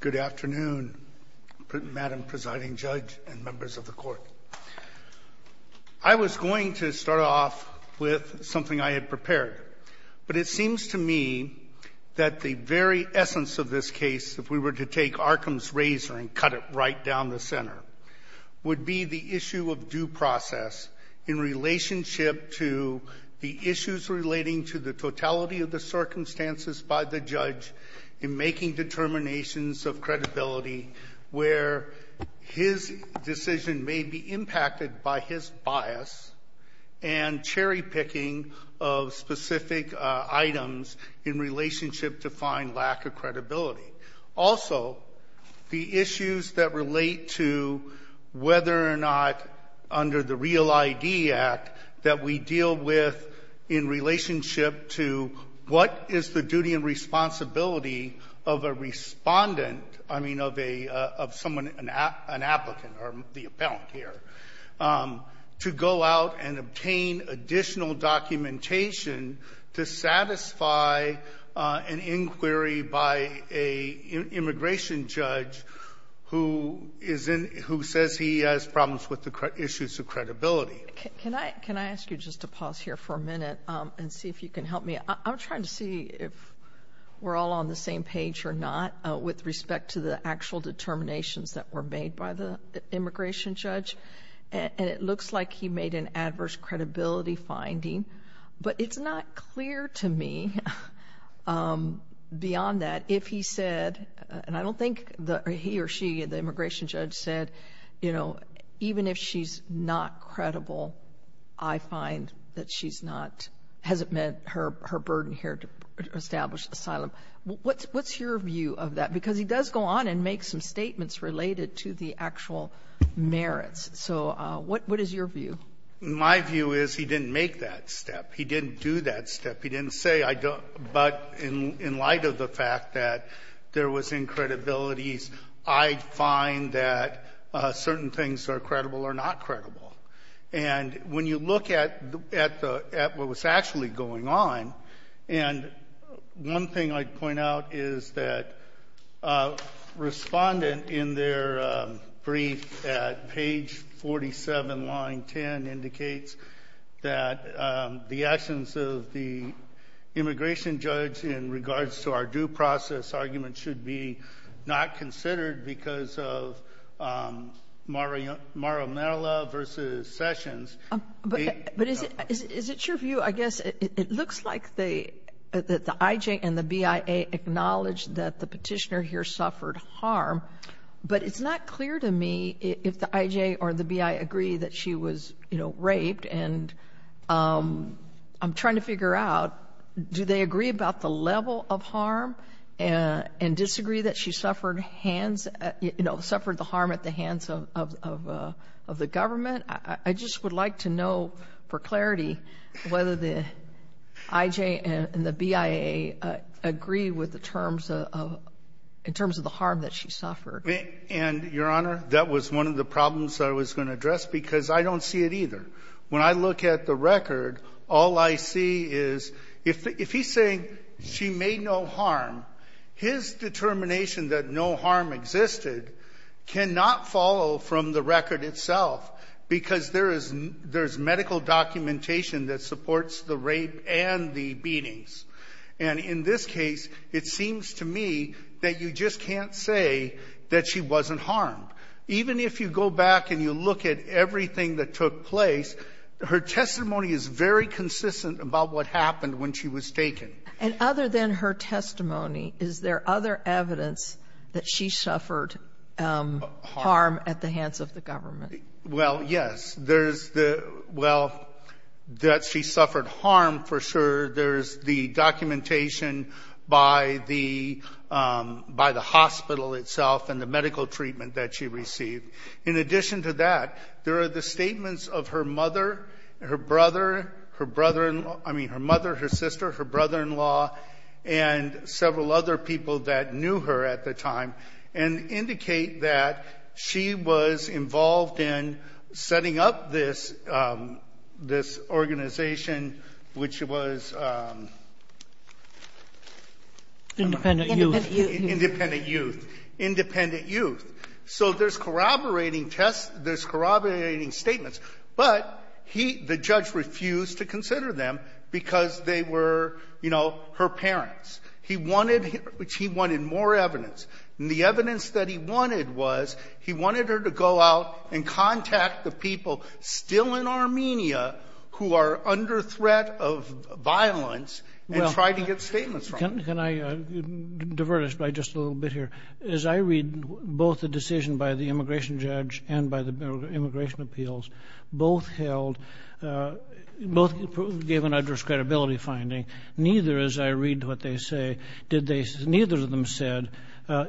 Good afternoon Madam Presiding Judge and Members of the Court. I was going to start off with something I had prepared, but it seems to me that the very essence of this case, if we were to take Arkham's razor and cut it right down the center, would be the issue of due process in relationship to the issues relating to the totality of the circumstances by the judge in making determinations of credibility where his decision may be impacted by his bias and cherry-picking of specific items in relationship to find lack of credibility. Also, the issues that relate to whether or not, under the REAL ID Act, that we deal with in relationship to what is the duty and responsibility of a Respondent, I mean of a, of someone, an applicant, or the appellant here, to go out and obtain additional documentation to satisfy an inquiry by an immigration judge who is in, who says he has problems with the issues of credibility. Can I ask you just to pause here for a minute and see if you can help me? I'm trying to see if we're all on the same page or not with respect to the actual determinations that were made by the immigration judge. And it looks like he made an adverse credibility finding, but it's not clear to me beyond that if he said, and I don't think he or she, the immigration judge said, you know, even if she's not credible, I find that she's not, hasn't met her burden here to establish asylum. What's your view of that? Because he does go on and make some statements related to the actual merits. So what is your view? My view is he didn't make that step. He didn't do that step. He didn't say, but in light of the fact that there was incredibilities, I find that certain things are credible or not credible. And when you look at what was actually going on, and one thing I'd point out is that a respondent in their brief at page 47, line 10, indicates that the actions of the immigration judge in regards to our due process argument should be not considered because of Mara Merrill versus Sessions. But is it your view, I guess, it looks like the IJ and the BIA acknowledge that the petitioner here suffered harm, but it's not clear to me if the IJ or the BIA agree that she was, you know, raped. And I'm trying to figure out, do they agree about the level of harm and disagree that she suffered hands, you know, suffered the harm at the hands of the government? I just would like to know for clarity whether the IJ and the BIA agree with the terms of, in terms of the harm that she suffered. And, Your Honor, that was one of the problems I was going to address because I don't see it either. When I look at the record, all I see is if he's saying she made no harm, his determination that no harm existed cannot follow from the record itself because there is medical documentation that supports the rape and the beatings. And in this case, it seems to me that you just can't say that she wasn't harmed. Even if you go back and you look at everything that took place, her testimony is very consistent about what happened when she was taken. And other than her testimony, is there other evidence that she suffered harm at the hands of the government? Well, yes. There's the – well, that she suffered harm, for sure. There's the documentation by the hospital itself and the medical treatment that she received. In addition to that, there are the statements of her mother, her brother, her brother-in-law – I mean her mother, her sister, her brother-in-law, and several other people that knew her at the time and indicate that she was involved in setting up this – this organization, which was – Independent youth. Independent youth. Independent youth. So there's corroborating tests. There's corroborating statements. But he – the judge refused to consider them because they were, you know, her parents. He wanted – he wanted more evidence. And the evidence that he wanted was he wanted her to go out and contact the people still in Armenia who are under threat of violence and try to get statements from them. Can I diverge by just a little bit here? As I read both the decision by the immigration judge and by the immigration appeals, both held – both gave an adverse credibility finding. Neither, as I read what they say, did they – neither of them said,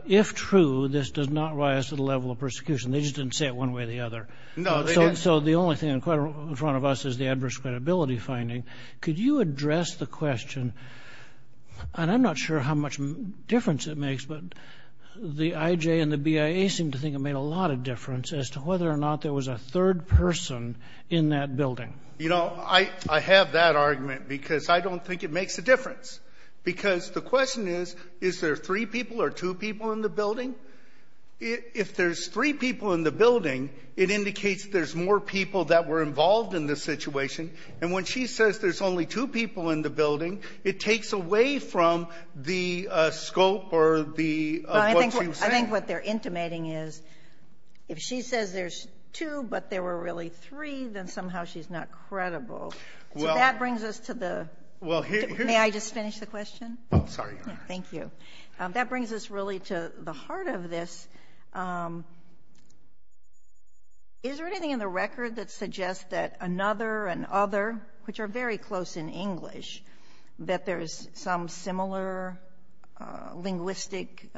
if true, this does not rise to the level of persecution. They just didn't say it one way or the other. No, they didn't. So the only thing in front of us is the adverse credibility finding. Could you address the question – and I'm not sure how much difference it makes, but the IJ and the BIA seem to think it made a lot of difference as to whether or not there was a third person in that building. You know, I have that argument because I don't think it makes a difference. Because the question is, is there three people or two people in the building? If there's three people in the building, it indicates there's more people that were involved in this situation. And when she says there's only two people in the building, I think what they're intimating is if she says there's two but there were really three, then somehow she's not credible. So that brings us to the – may I just finish the question? Oh, sorry. Thank you. That brings us really to the heart of this. Is there anything in the record that suggests that another and other, which are very close in English, that there's some similar linguistic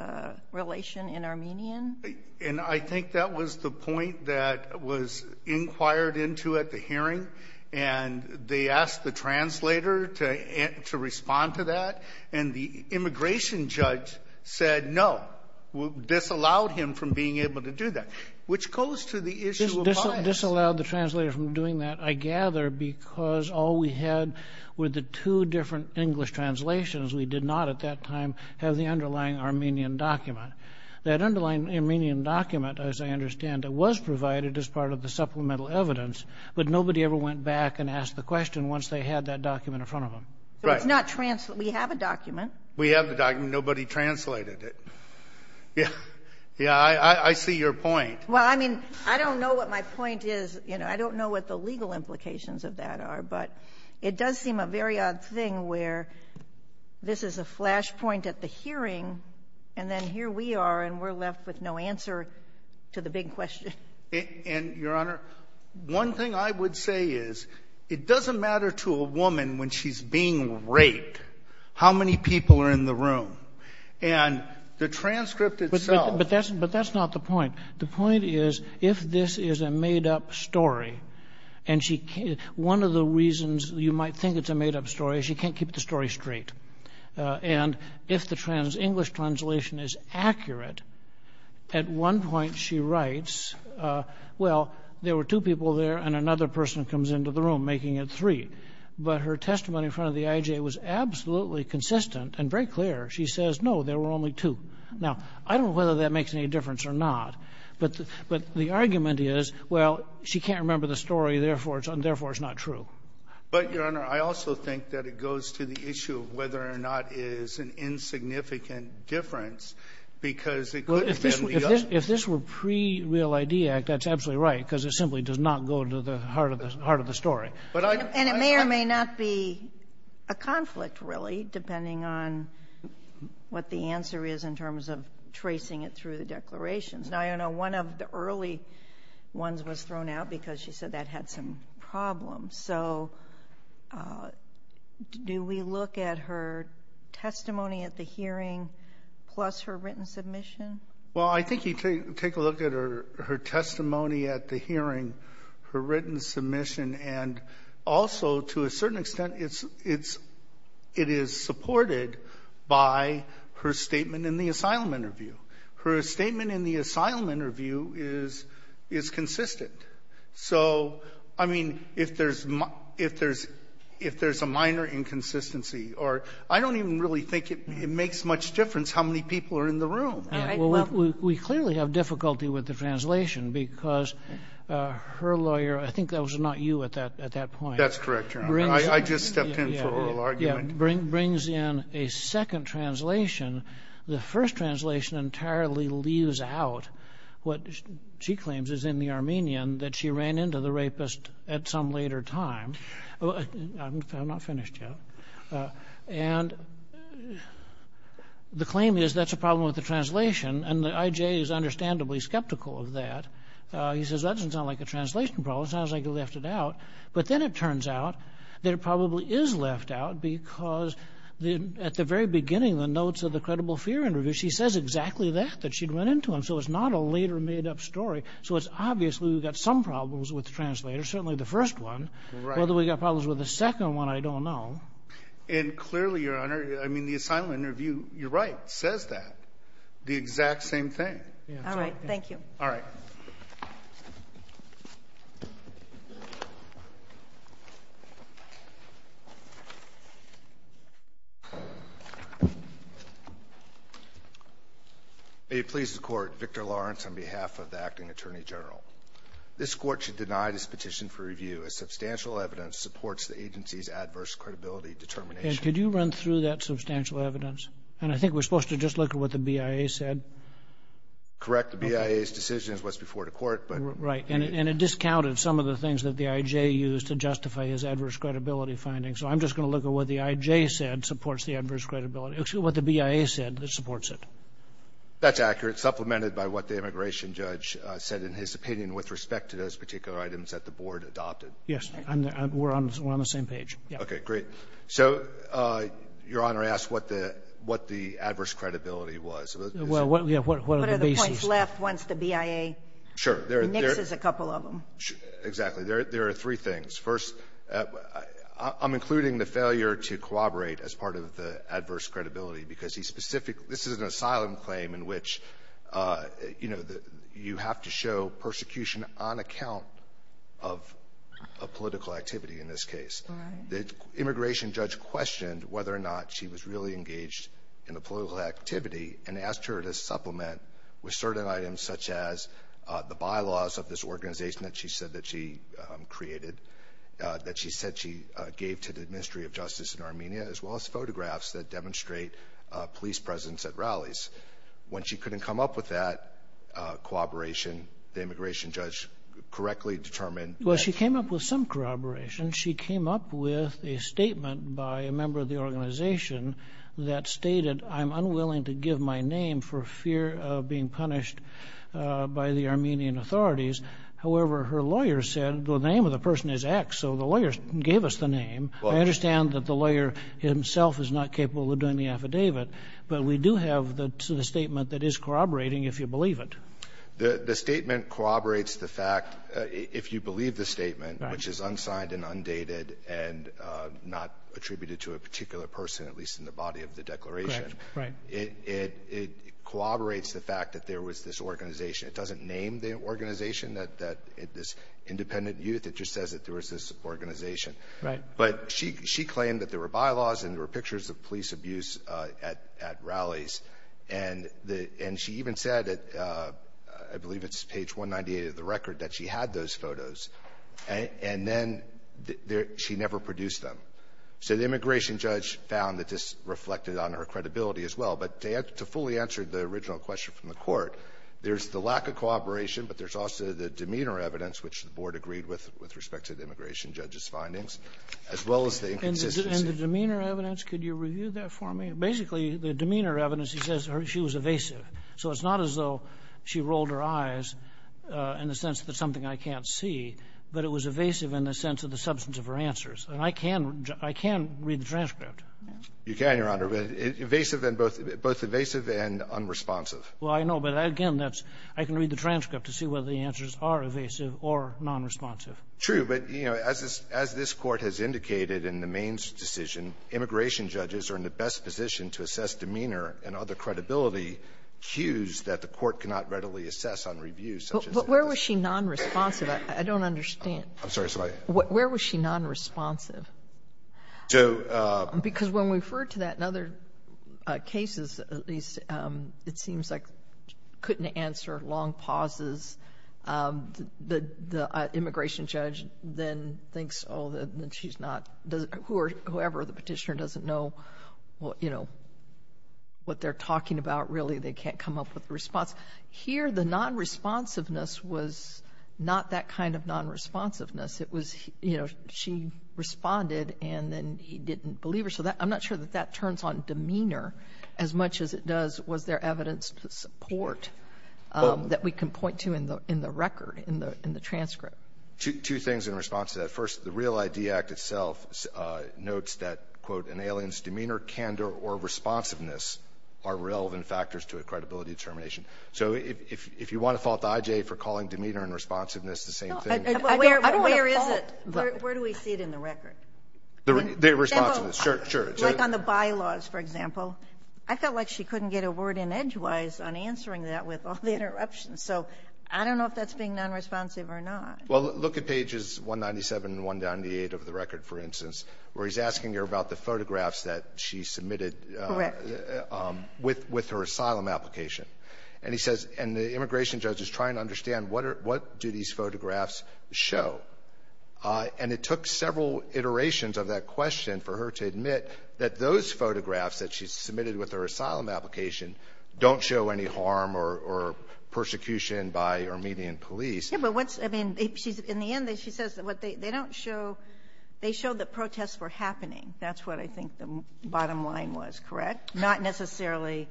relation in Armenian? And I think that was the point that was inquired into at the hearing, and they asked the translator to respond to that, and the immigration judge said no, disallowed him from being able to do that, which goes to the issue of bias. Disallowed the translator from doing that, I gather, because all we had were the two different English translations. We did not at that time have the underlying Armenian document. That underlying Armenian document, as I understand it, was provided as part of the supplemental evidence, but nobody ever went back and asked the question once they had that document in front of them. Right. So it's not translated. We have a document. We have the document. Nobody translated it. Yeah, I see your point. Well, I mean, I don't know what my point is. You know, I don't know what the legal implications of that are, but it does seem a very odd thing where this is a flashpoint at the hearing, and then here we are, and we're left with no answer to the big question. And, Your Honor, one thing I would say is it doesn't matter to a woman when she's being raped how many people are in the room. And the transcript itself — But that's not the point. The point is if this is a made-up story, and one of the reasons you might think it's a made-up story is you can't keep the story straight. And if the English translation is accurate, at one point she writes, well, there were two people there, and another person comes into the room, making it three. But her testimony in front of the IJ was absolutely consistent and very clear. She says, no, there were only two. Now, I don't know whether that makes any difference or not, but the argument is, well, she can't remember the story, therefore it's not true. But, Your Honor, I also think that it goes to the issue of whether or not it is an insignificant difference, because it could have been the other. Well, if this were pre-Real ID Act, that's absolutely right, because it simply does not go to the heart of the story. And it may or may not be a conflict, really, depending on what the answer is in terms of tracing it through the declarations. Now, Your Honor, one of the early ones was thrown out because she said that had some problems. So do we look at her testimony at the hearing plus her written submission? Well, I think you take a look at her testimony at the hearing, her written submission, and also, to a certain extent, it is supported by her statement in the asylum interview. Her statement in the asylum interview is consistent. So, I mean, if there's a minor inconsistency or I don't even really think it makes much difference how many people are in the room. We clearly have difficulty with the translation because her lawyer, I think that was not you at that point. That's correct, Your Honor. I just stepped in for oral argument. Brings in a second translation. The first translation entirely leaves out what she claims is in the Armenian, that she ran into the rapist at some later time. I'm not finished yet. And the claim is that's a problem with the translation. And the IJ is understandably skeptical of that. He says that doesn't sound like a translation problem. It sounds like you left it out. But then it turns out that it probably is left out because at the very beginning, the notes of the credible fear interview, she says exactly that, that she'd run into him. So it's not a later made-up story. So it's obviously we've got some problems with the translator, certainly the first one. Whether we've got problems with the second one, I don't know. And clearly, Your Honor, I mean, the assignment interview, you're right, says that, the exact same thing. All right. Thank you. All right. May it please the Court, Victor Lawrence on behalf of the Acting Attorney General. This Court should deny this petition for review as substantial evidence supports the agency's adverse credibility determination. And could you run through that substantial evidence? And I think we're supposed to just look at what the BIA said. Correct. The BIA's decision is what's before the Court. Right. And it discounted some of the things that the IJ used to justify his adverse credibility findings. So I'm just going to look at what the IJ said supports the adverse credibility, what the BIA said supports it. That's accurate. Supplemented by what the immigration judge said in his opinion with respect to those particular items that the Board adopted. Yes. We're on the same page. Okay. Great. So, Your Honor, I asked what the adverse credibility was. What are the points left once the BIA mixes a couple of them? Sure. Exactly. There are three things. First, I'm including the failure to corroborate as part of the adverse credibility because this is an asylum claim in which you have to show persecution on account of political activity in this case. Right. The immigration judge questioned whether or not she was really engaged in a political activity and asked her to supplement with certain items such as the bylaws of this organization that she said that she created, that she said she gave to the Ministry of Justice in Armenia, as well as photographs that demonstrate police presence at rallies. When she couldn't come up with that corroboration, the immigration judge correctly determined that- Well, she came up with some corroboration. She came up with a statement by a member of the organization that stated, I'm unwilling to give my name for fear of being punished by the Armenian authorities. However, her lawyer said the name of the person is X, so the lawyer gave us the name. I understand that the lawyer himself is not capable of doing the affidavit, but we do have the statement that is corroborating, if you believe it. The statement corroborates the fact, if you believe the statement, which is unsigned and undated and not attributed to a particular person, at least in the body of the declaration. Right. It corroborates the fact that there was this organization. It doesn't name the organization, this independent youth. It just says that there was this organization. Right. But she claimed that there were bylaws and there were pictures of police abuse at rallies. And she even said, I believe it's page 198 of the record, that she had those photos. And then she never produced them. So the immigration judge found that this reflected on her credibility as well. But to fully answer the original question from the Court, there's the lack of cooperation, but there's also the demeanor evidence, which the Board agreed with, with respect to the immigration judge's findings, as well as the inconsistency. And the demeanor evidence, could you review that for me? Basically, the demeanor evidence, he says, she was evasive. So it's not as though she rolled her eyes in the sense that it's something I can't see, but it was evasive in the sense of the substance of her answers. And I can read the transcript. You can, Your Honor. But evasive and both, both evasive and unresponsive. Well, I know. But, again, that's, I can read the transcript to see whether the answers are evasive or nonresponsive. True. But, you know, as this Court has indicated in the Mains decision, immigration judges are in the best position to assess demeanor and other credibility cues that the Court cannot readily assess on reviews such as this. But where was she nonresponsive? I don't understand. I'm sorry. Where was she nonresponsive? Because when we refer to that in other cases, at least, it seems like couldn't answer, long pauses. The immigration judge then thinks, oh, then she's not, whoever, the petitioner doesn't know, you know, what they're talking about, really. They can't come up with a response. Here, the nonresponsiveness was not that kind of nonresponsiveness. It was, you know, she responded and then he didn't believe her. So I'm not sure that that turns on demeanor as much as it does was there evidence to support that we can point to in the record, in the transcript. Two things in response to that. First, the REAL-ID Act itself notes that, quote, an alien's demeanor, candor, or responsiveness are relevant factors to a credibility determination. So if you want to fault the IJA for calling demeanor and responsiveness the same thing. I don't want to fault. Where is it? Where do we see it in the record? The responsiveness, sure. Like on the bylaws, for example. I felt like she couldn't get a word in edgewise on answering that with all the interruptions. So I don't know if that's being nonresponsive or not. Well, look at pages 197 and 198 of the record, for instance, where he's asking her about the photographs that she submitted with her asylum application. And he says, and the immigration judge is trying to understand what do these photographs show. And it took several iterations of that question for her to admit that those photographs that she submitted with her asylum application don't show any harm or persecution by Armenian police. Yeah, but what's – I mean, she's – in the end, she says what they – they don't show – they show that protests were happening. That's what I think the bottom line was, correct? Not necessarily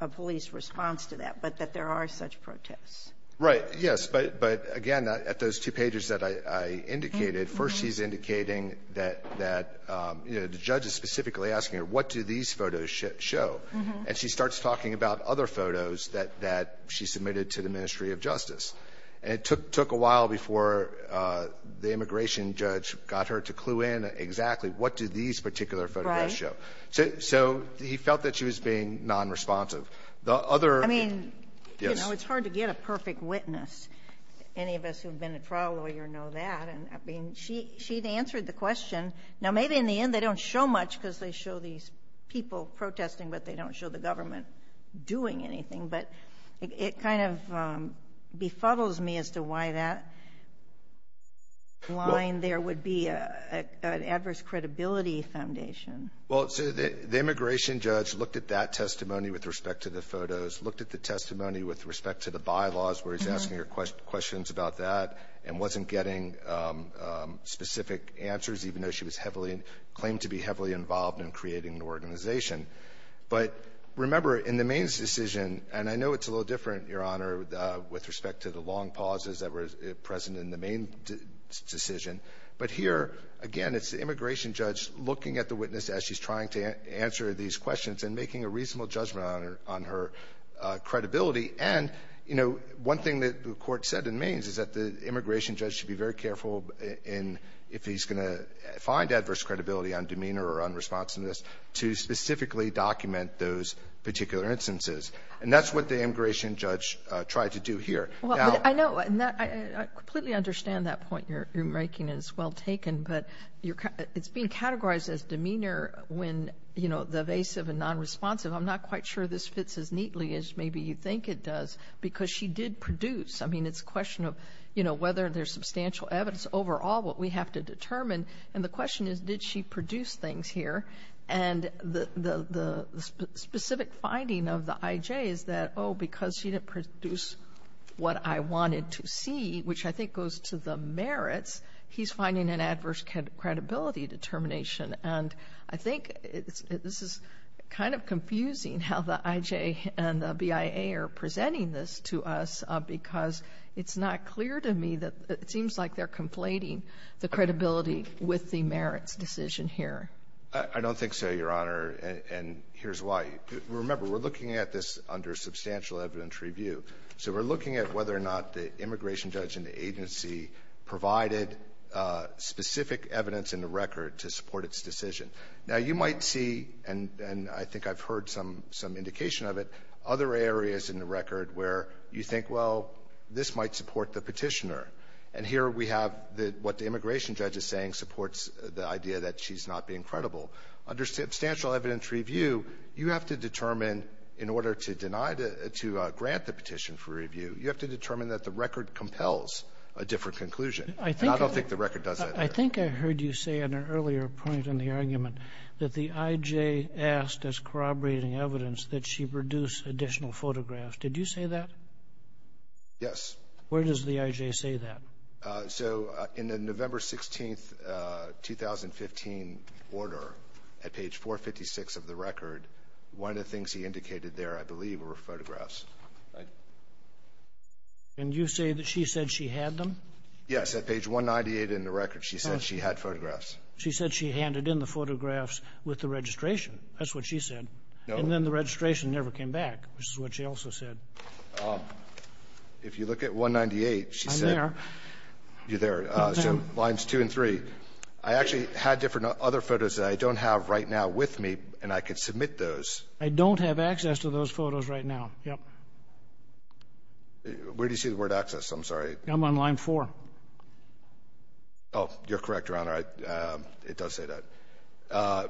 a police response to that, but that there are such protests. Right, yes. But again, at those two pages that I indicated, first she's indicating that the judge is specifically asking her what do these photos show. And she starts talking about other photos that she submitted to the Ministry of Justice. And it took a while before the immigration judge got her to clue in exactly what do these particular photographs show. So he felt that she was being nonresponsive. The other – I mean, you know, it's hard to get a perfect witness. Any of us who have been a trial lawyer know that. And I mean, she answered the question. Now, maybe in the end they don't show much because they show these people protesting, but they don't show the government doing anything. But it kind of befuddles me as to why that line there would be an adverse credibility foundation. Well, so the immigration judge looked at that testimony with respect to the photos, looked at the testimony with respect to the bylaws where he's asking her questions about that and wasn't getting specific answers, even though she was heavily – claimed to be heavily involved in creating the organization. But remember, in the Maine's decision – and I know it's a little different, Your Honor, with respect to the long pauses that were present in the Maine's decision. But here, again, it's the immigration judge looking at the witness as she's trying to answer these questions and making a reasonable judgment on her credibility. And, you know, one thing that the court said in Maine's is that the immigration judge should be very careful if he's going to find adverse credibility on demeanor or on responsiveness to specifically document those particular instances. And that's what the immigration judge tried to do here. I completely understand that point you're making. It's well taken. But it's being categorized as demeanor when, you know, the evasive and nonresponsive. I'm not quite sure this fits as neatly as maybe you think it does because she did produce. I mean, it's a question of, you know, whether there's substantial evidence overall, what we have to determine. And the question is, did she produce things here? And the specific finding of the IJ is that, oh, because she didn't produce what I wanted to see, which I think goes to the merits, he's finding an adverse credibility determination. And I think this is kind of confusing how the IJ and the BIA are presenting this to us because it's not clear to me that it seems like they're conflating the credibility with the merits decision here. I don't think so, Your Honor. And here's why. Remember, we're looking at this under substantial evidence review. So we're looking at whether or not the immigration judge and the agency provided specific evidence in the record to support its decision. Now, you might see, and I think I've heard some indication of it, other areas in the record where you think, well, this might support the petitioner. And here we have what the immigration judge is saying supports the idea that she's not being credible. Under substantial evidence review, you have to determine, in order to deny the — to grant the petition for review, you have to determine that the record compels a different conclusion. And I don't think the record does that either. I think I heard you say in an earlier point in the argument that the IJ asked as corroborating evidence that she produce additional photographs. Did you say that? Yes. Where does the IJ say that? So, in the November 16th, 2015, order, at page 456 of the record, one of the things he indicated there, I believe, were photographs. And you say that she said she had them? Yes. At page 198 in the record, she said she had photographs. She said she handed in the photographs with the registration. That's what she said. And then the registration never came back, which is what she also said. If you look at 198, she said — I'm there. You're there. So lines 2 and 3. I actually had different other photos that I don't have right now with me, and I can submit those. I don't have access to those photos right now. Yep. Where do you see the word access? I'm sorry. I'm on line 4. Oh, you're correct, Your Honor. It does say that.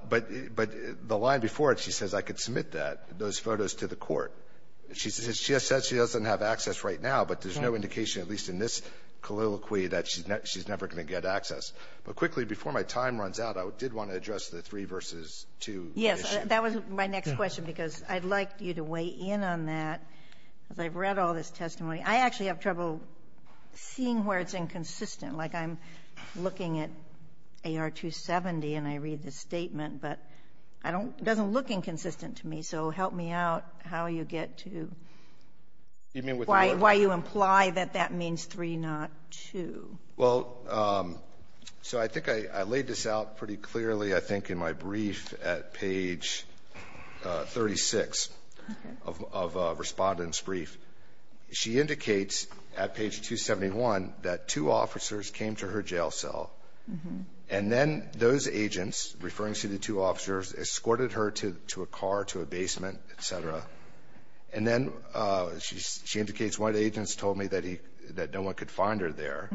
But the line before it, she says I could submit that, those photos, to the court. She says she doesn't have access right now, but there's no indication, at least in this colloquy, that she's never going to get access. But quickly, before my time runs out, I did want to address the 3 v. 2 issue. Yes. That was my next question, because I'd like you to weigh in on that, because I've read all this testimony. I actually have trouble seeing where it's inconsistent. Like, I'm looking at AR-270, and I read the statement, but I don't — it doesn't look inconsistent to me. So help me out how you get to why you imply that that means 3, not 2. Well, so I think I laid this out pretty clearly, I think, in my brief at page 36 of a respondent's brief. She indicates at page 271 that two officers came to her jail cell, and then those who escorted her to the basement, et cetera. And then she indicates, one of the agents told me that he — that no one could find her there.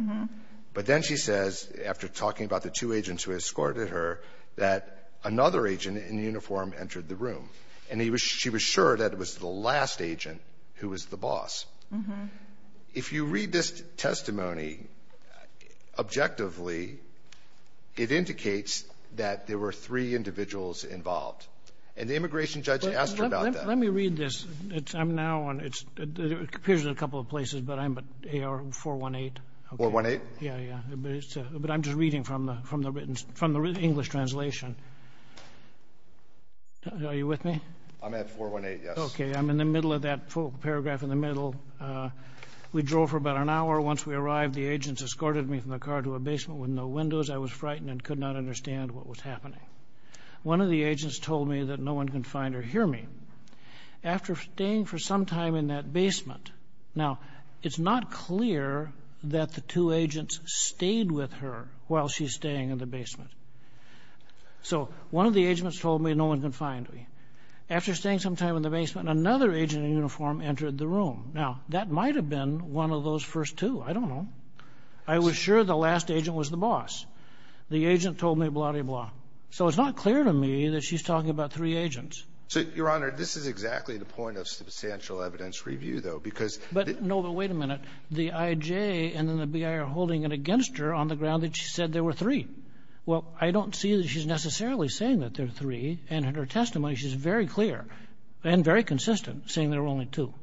But then she says, after talking about the two agents who escorted her, that another agent in uniform entered the room. And he was — she was sure that it was the last agent who was the boss. If you read this testimony objectively, it indicates that there were three individuals involved. And the immigration judge asked her about that. Let me read this. I'm now on — it appears in a couple of places, but I'm at AR-418. 418? Yeah, yeah. But I'm just reading from the written — from the English translation. Are you with me? I'm at 418, yes. Okay. I'm in the middle of that paragraph in the middle. We drove for about an hour. Once we arrived, the agents escorted me from the car to a basement with no windows. I was frightened and could not understand what was happening. One of the agents told me that no one can find or hear me. After staying for some time in that basement — now, it's not clear that the two agents stayed with her while she's staying in the basement. So one of the agents told me no one can find me. After staying some time in the basement, another agent in uniform entered the room. Now, that might have been one of those first two. I don't know. I was sure the last agent was the boss. The agent told me blah-de-blah. So it's not clear to me that she's talking about three agents. So, Your Honor, this is exactly the point of substantial evidence review, though, because — No, but wait a minute. The I.J. and then the B.I. are holding it against her on the ground that she said there were three. Well, I don't see that she's necessarily saying that there are three. And in her testimony, she's very clear and very consistent, saying there were only two.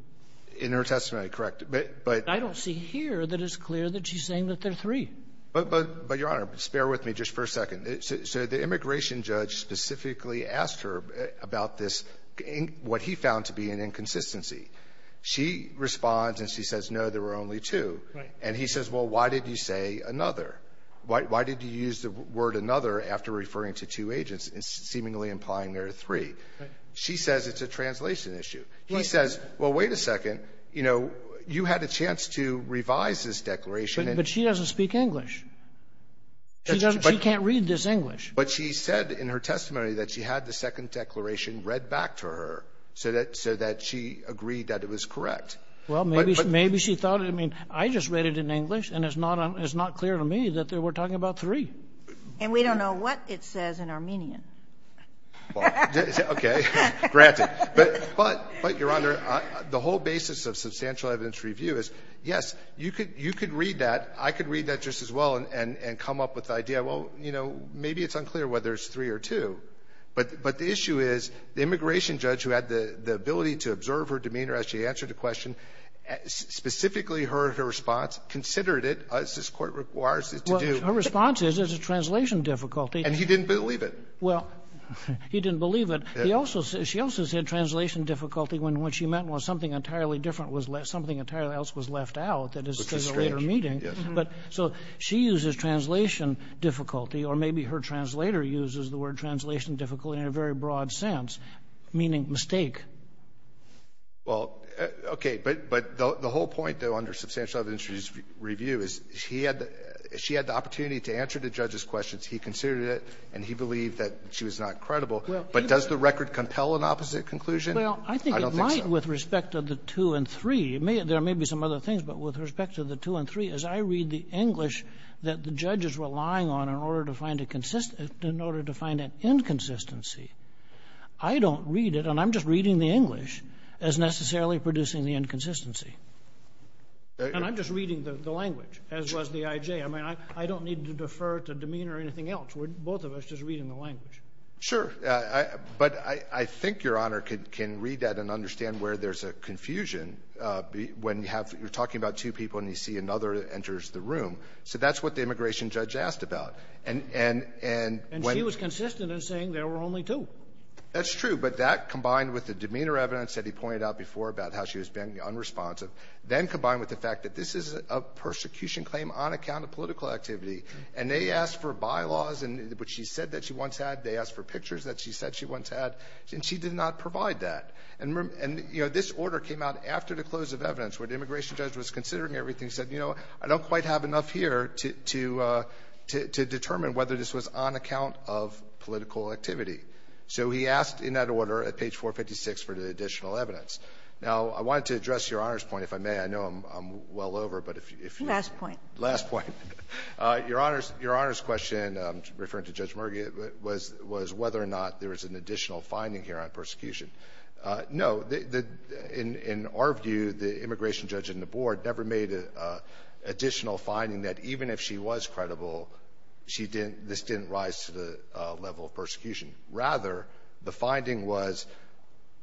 In her testimony, correct. I don't see here that it's clear that she's saying that there are three. But, Your Honor, bear with me just for a second. So the immigration judge specifically asked her about this, what he found to be an inconsistency. She responds and she says, no, there were only two. And he says, well, why did you say another? Why did you use the word another after referring to two agents, seemingly implying there are three? She says it's a translation issue. He says, well, wait a second, you know, you had a chance to revise this declaration But she doesn't speak English. She can't read this English. But she said in her testimony that she had the second declaration read back to her, so that she agreed that it was correct. Well, maybe she thought it. I mean, I just read it in English, and it's not clear to me that they were talking about three. And we don't know what it says in Armenian. Okay. Granted. But, Your Honor, the whole basis of substantial evidence review is, yes, you could read that. I could read that just as well and come up with the idea. Well, you know, maybe it's unclear whether it's three or two. But the issue is the immigration judge, who had the ability to observe her demeanor as she answered a question, specifically her response considered it, as this Court requires it to do. Well, her response is it's a translation difficulty. And he didn't believe it. Well, he didn't believe it. She also said translation difficulty when what she meant was something entirely different was left, something entirely else was left out that is to the later meeting. But so she uses translation difficulty, or maybe her translator uses the word translation difficulty in a very broad sense, meaning mistake. Well, okay. But the whole point, though, under substantial evidence review is she had the opportunity to answer the judge's questions. He considered it, and he believed that she was not credible. But does the record compel an opposite conclusion? I don't think so. With respect to the two and three, there may be some other things. But with respect to the two and three, as I read the English that the judge is relying on in order to find an inconsistency, I don't read it. And I'm just reading the English as necessarily producing the inconsistency. And I'm just reading the language, as was the IJ. I mean, I don't need to defer to demeanor or anything else. We're both of us just reading the language. Sure. But I think Your Honor can read that and understand where there's a confusion when you have to be talking about two people and you see another enters the room. So that's what the immigration judge asked about. And when he was consistent in saying there were only two. That's true. But that combined with the demeanor evidence that he pointed out before about how she was being unresponsive, then combined with the fact that this is a persecution claim on account of political activity. And they asked for bylaws, which she said that she once had. They asked for pictures that she said she once had. And she did not provide that. And, you know, this order came out after the close of evidence, where the immigration judge was considering everything, said, you know, I don't quite have enough here to determine whether this was on account of political activity. So he asked in that order at page 456 for the additional evidence. Now, I wanted to address Your Honor's point, if I may. I know I'm well over, but if you could. Last point. Last point. Your Honor's question, referring to Judge Murga, was whether or not there was an additional finding here on persecution. No. In our view, the immigration judge and the board never made an additional finding that even if she was credible, she didn't — this didn't rise to the level of persecution. Rather, the finding was,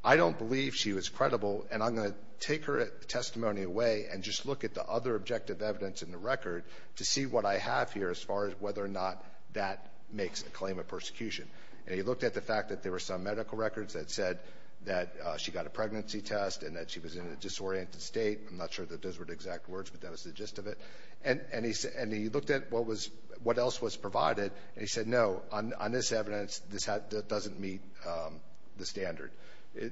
I don't believe she was credible, and I'm going to take her testimony away and just look at the other objective evidence in the record to see what I have here as far as whether or not that makes a claim of persecution. And he looked at the fact that there were some medical records that said that she got a pregnancy test and that she was in a disoriented state. I'm not sure that those were the exact words, but that was the gist of it. And he looked at what was — what else was provided, and he said, no, on this evidence, this doesn't meet the standard.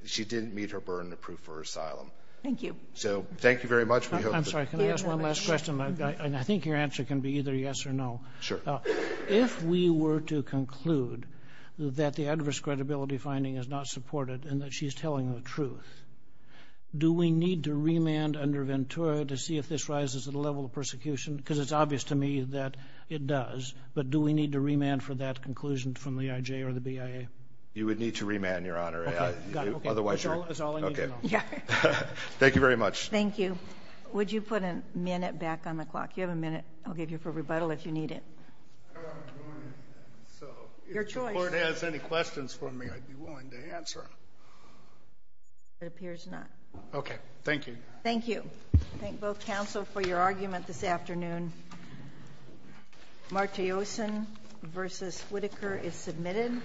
She didn't meet her burden of proof for asylum. Thank you. So, thank you very much. I'm sorry. Can I ask one last question? And I think your answer can be either yes or no. Sure. If we were to conclude that the adverse credibility finding is not supported and that she is telling the truth, do we need to remand under Ventura to see if this rises to the level of persecution? Because it's obvious to me that it does. But do we need to remand for that conclusion from the IJ or the BIA? You would need to remand, Your Honor. Okay. Got it. Otherwise, you're — Okay. That's all I need to know. Okay. Yeah. Thank you very much. Thank you. Would you put a minute back on the clock? You have a minute. I'll give you for rebuttal if you need it. Your choice. So, if the Court has any questions for me, I'd be willing to answer. It appears not. Okay. Thank you. Thank you. Thank both counsel for your argument this afternoon. Martiosen v. Whitaker is submitted.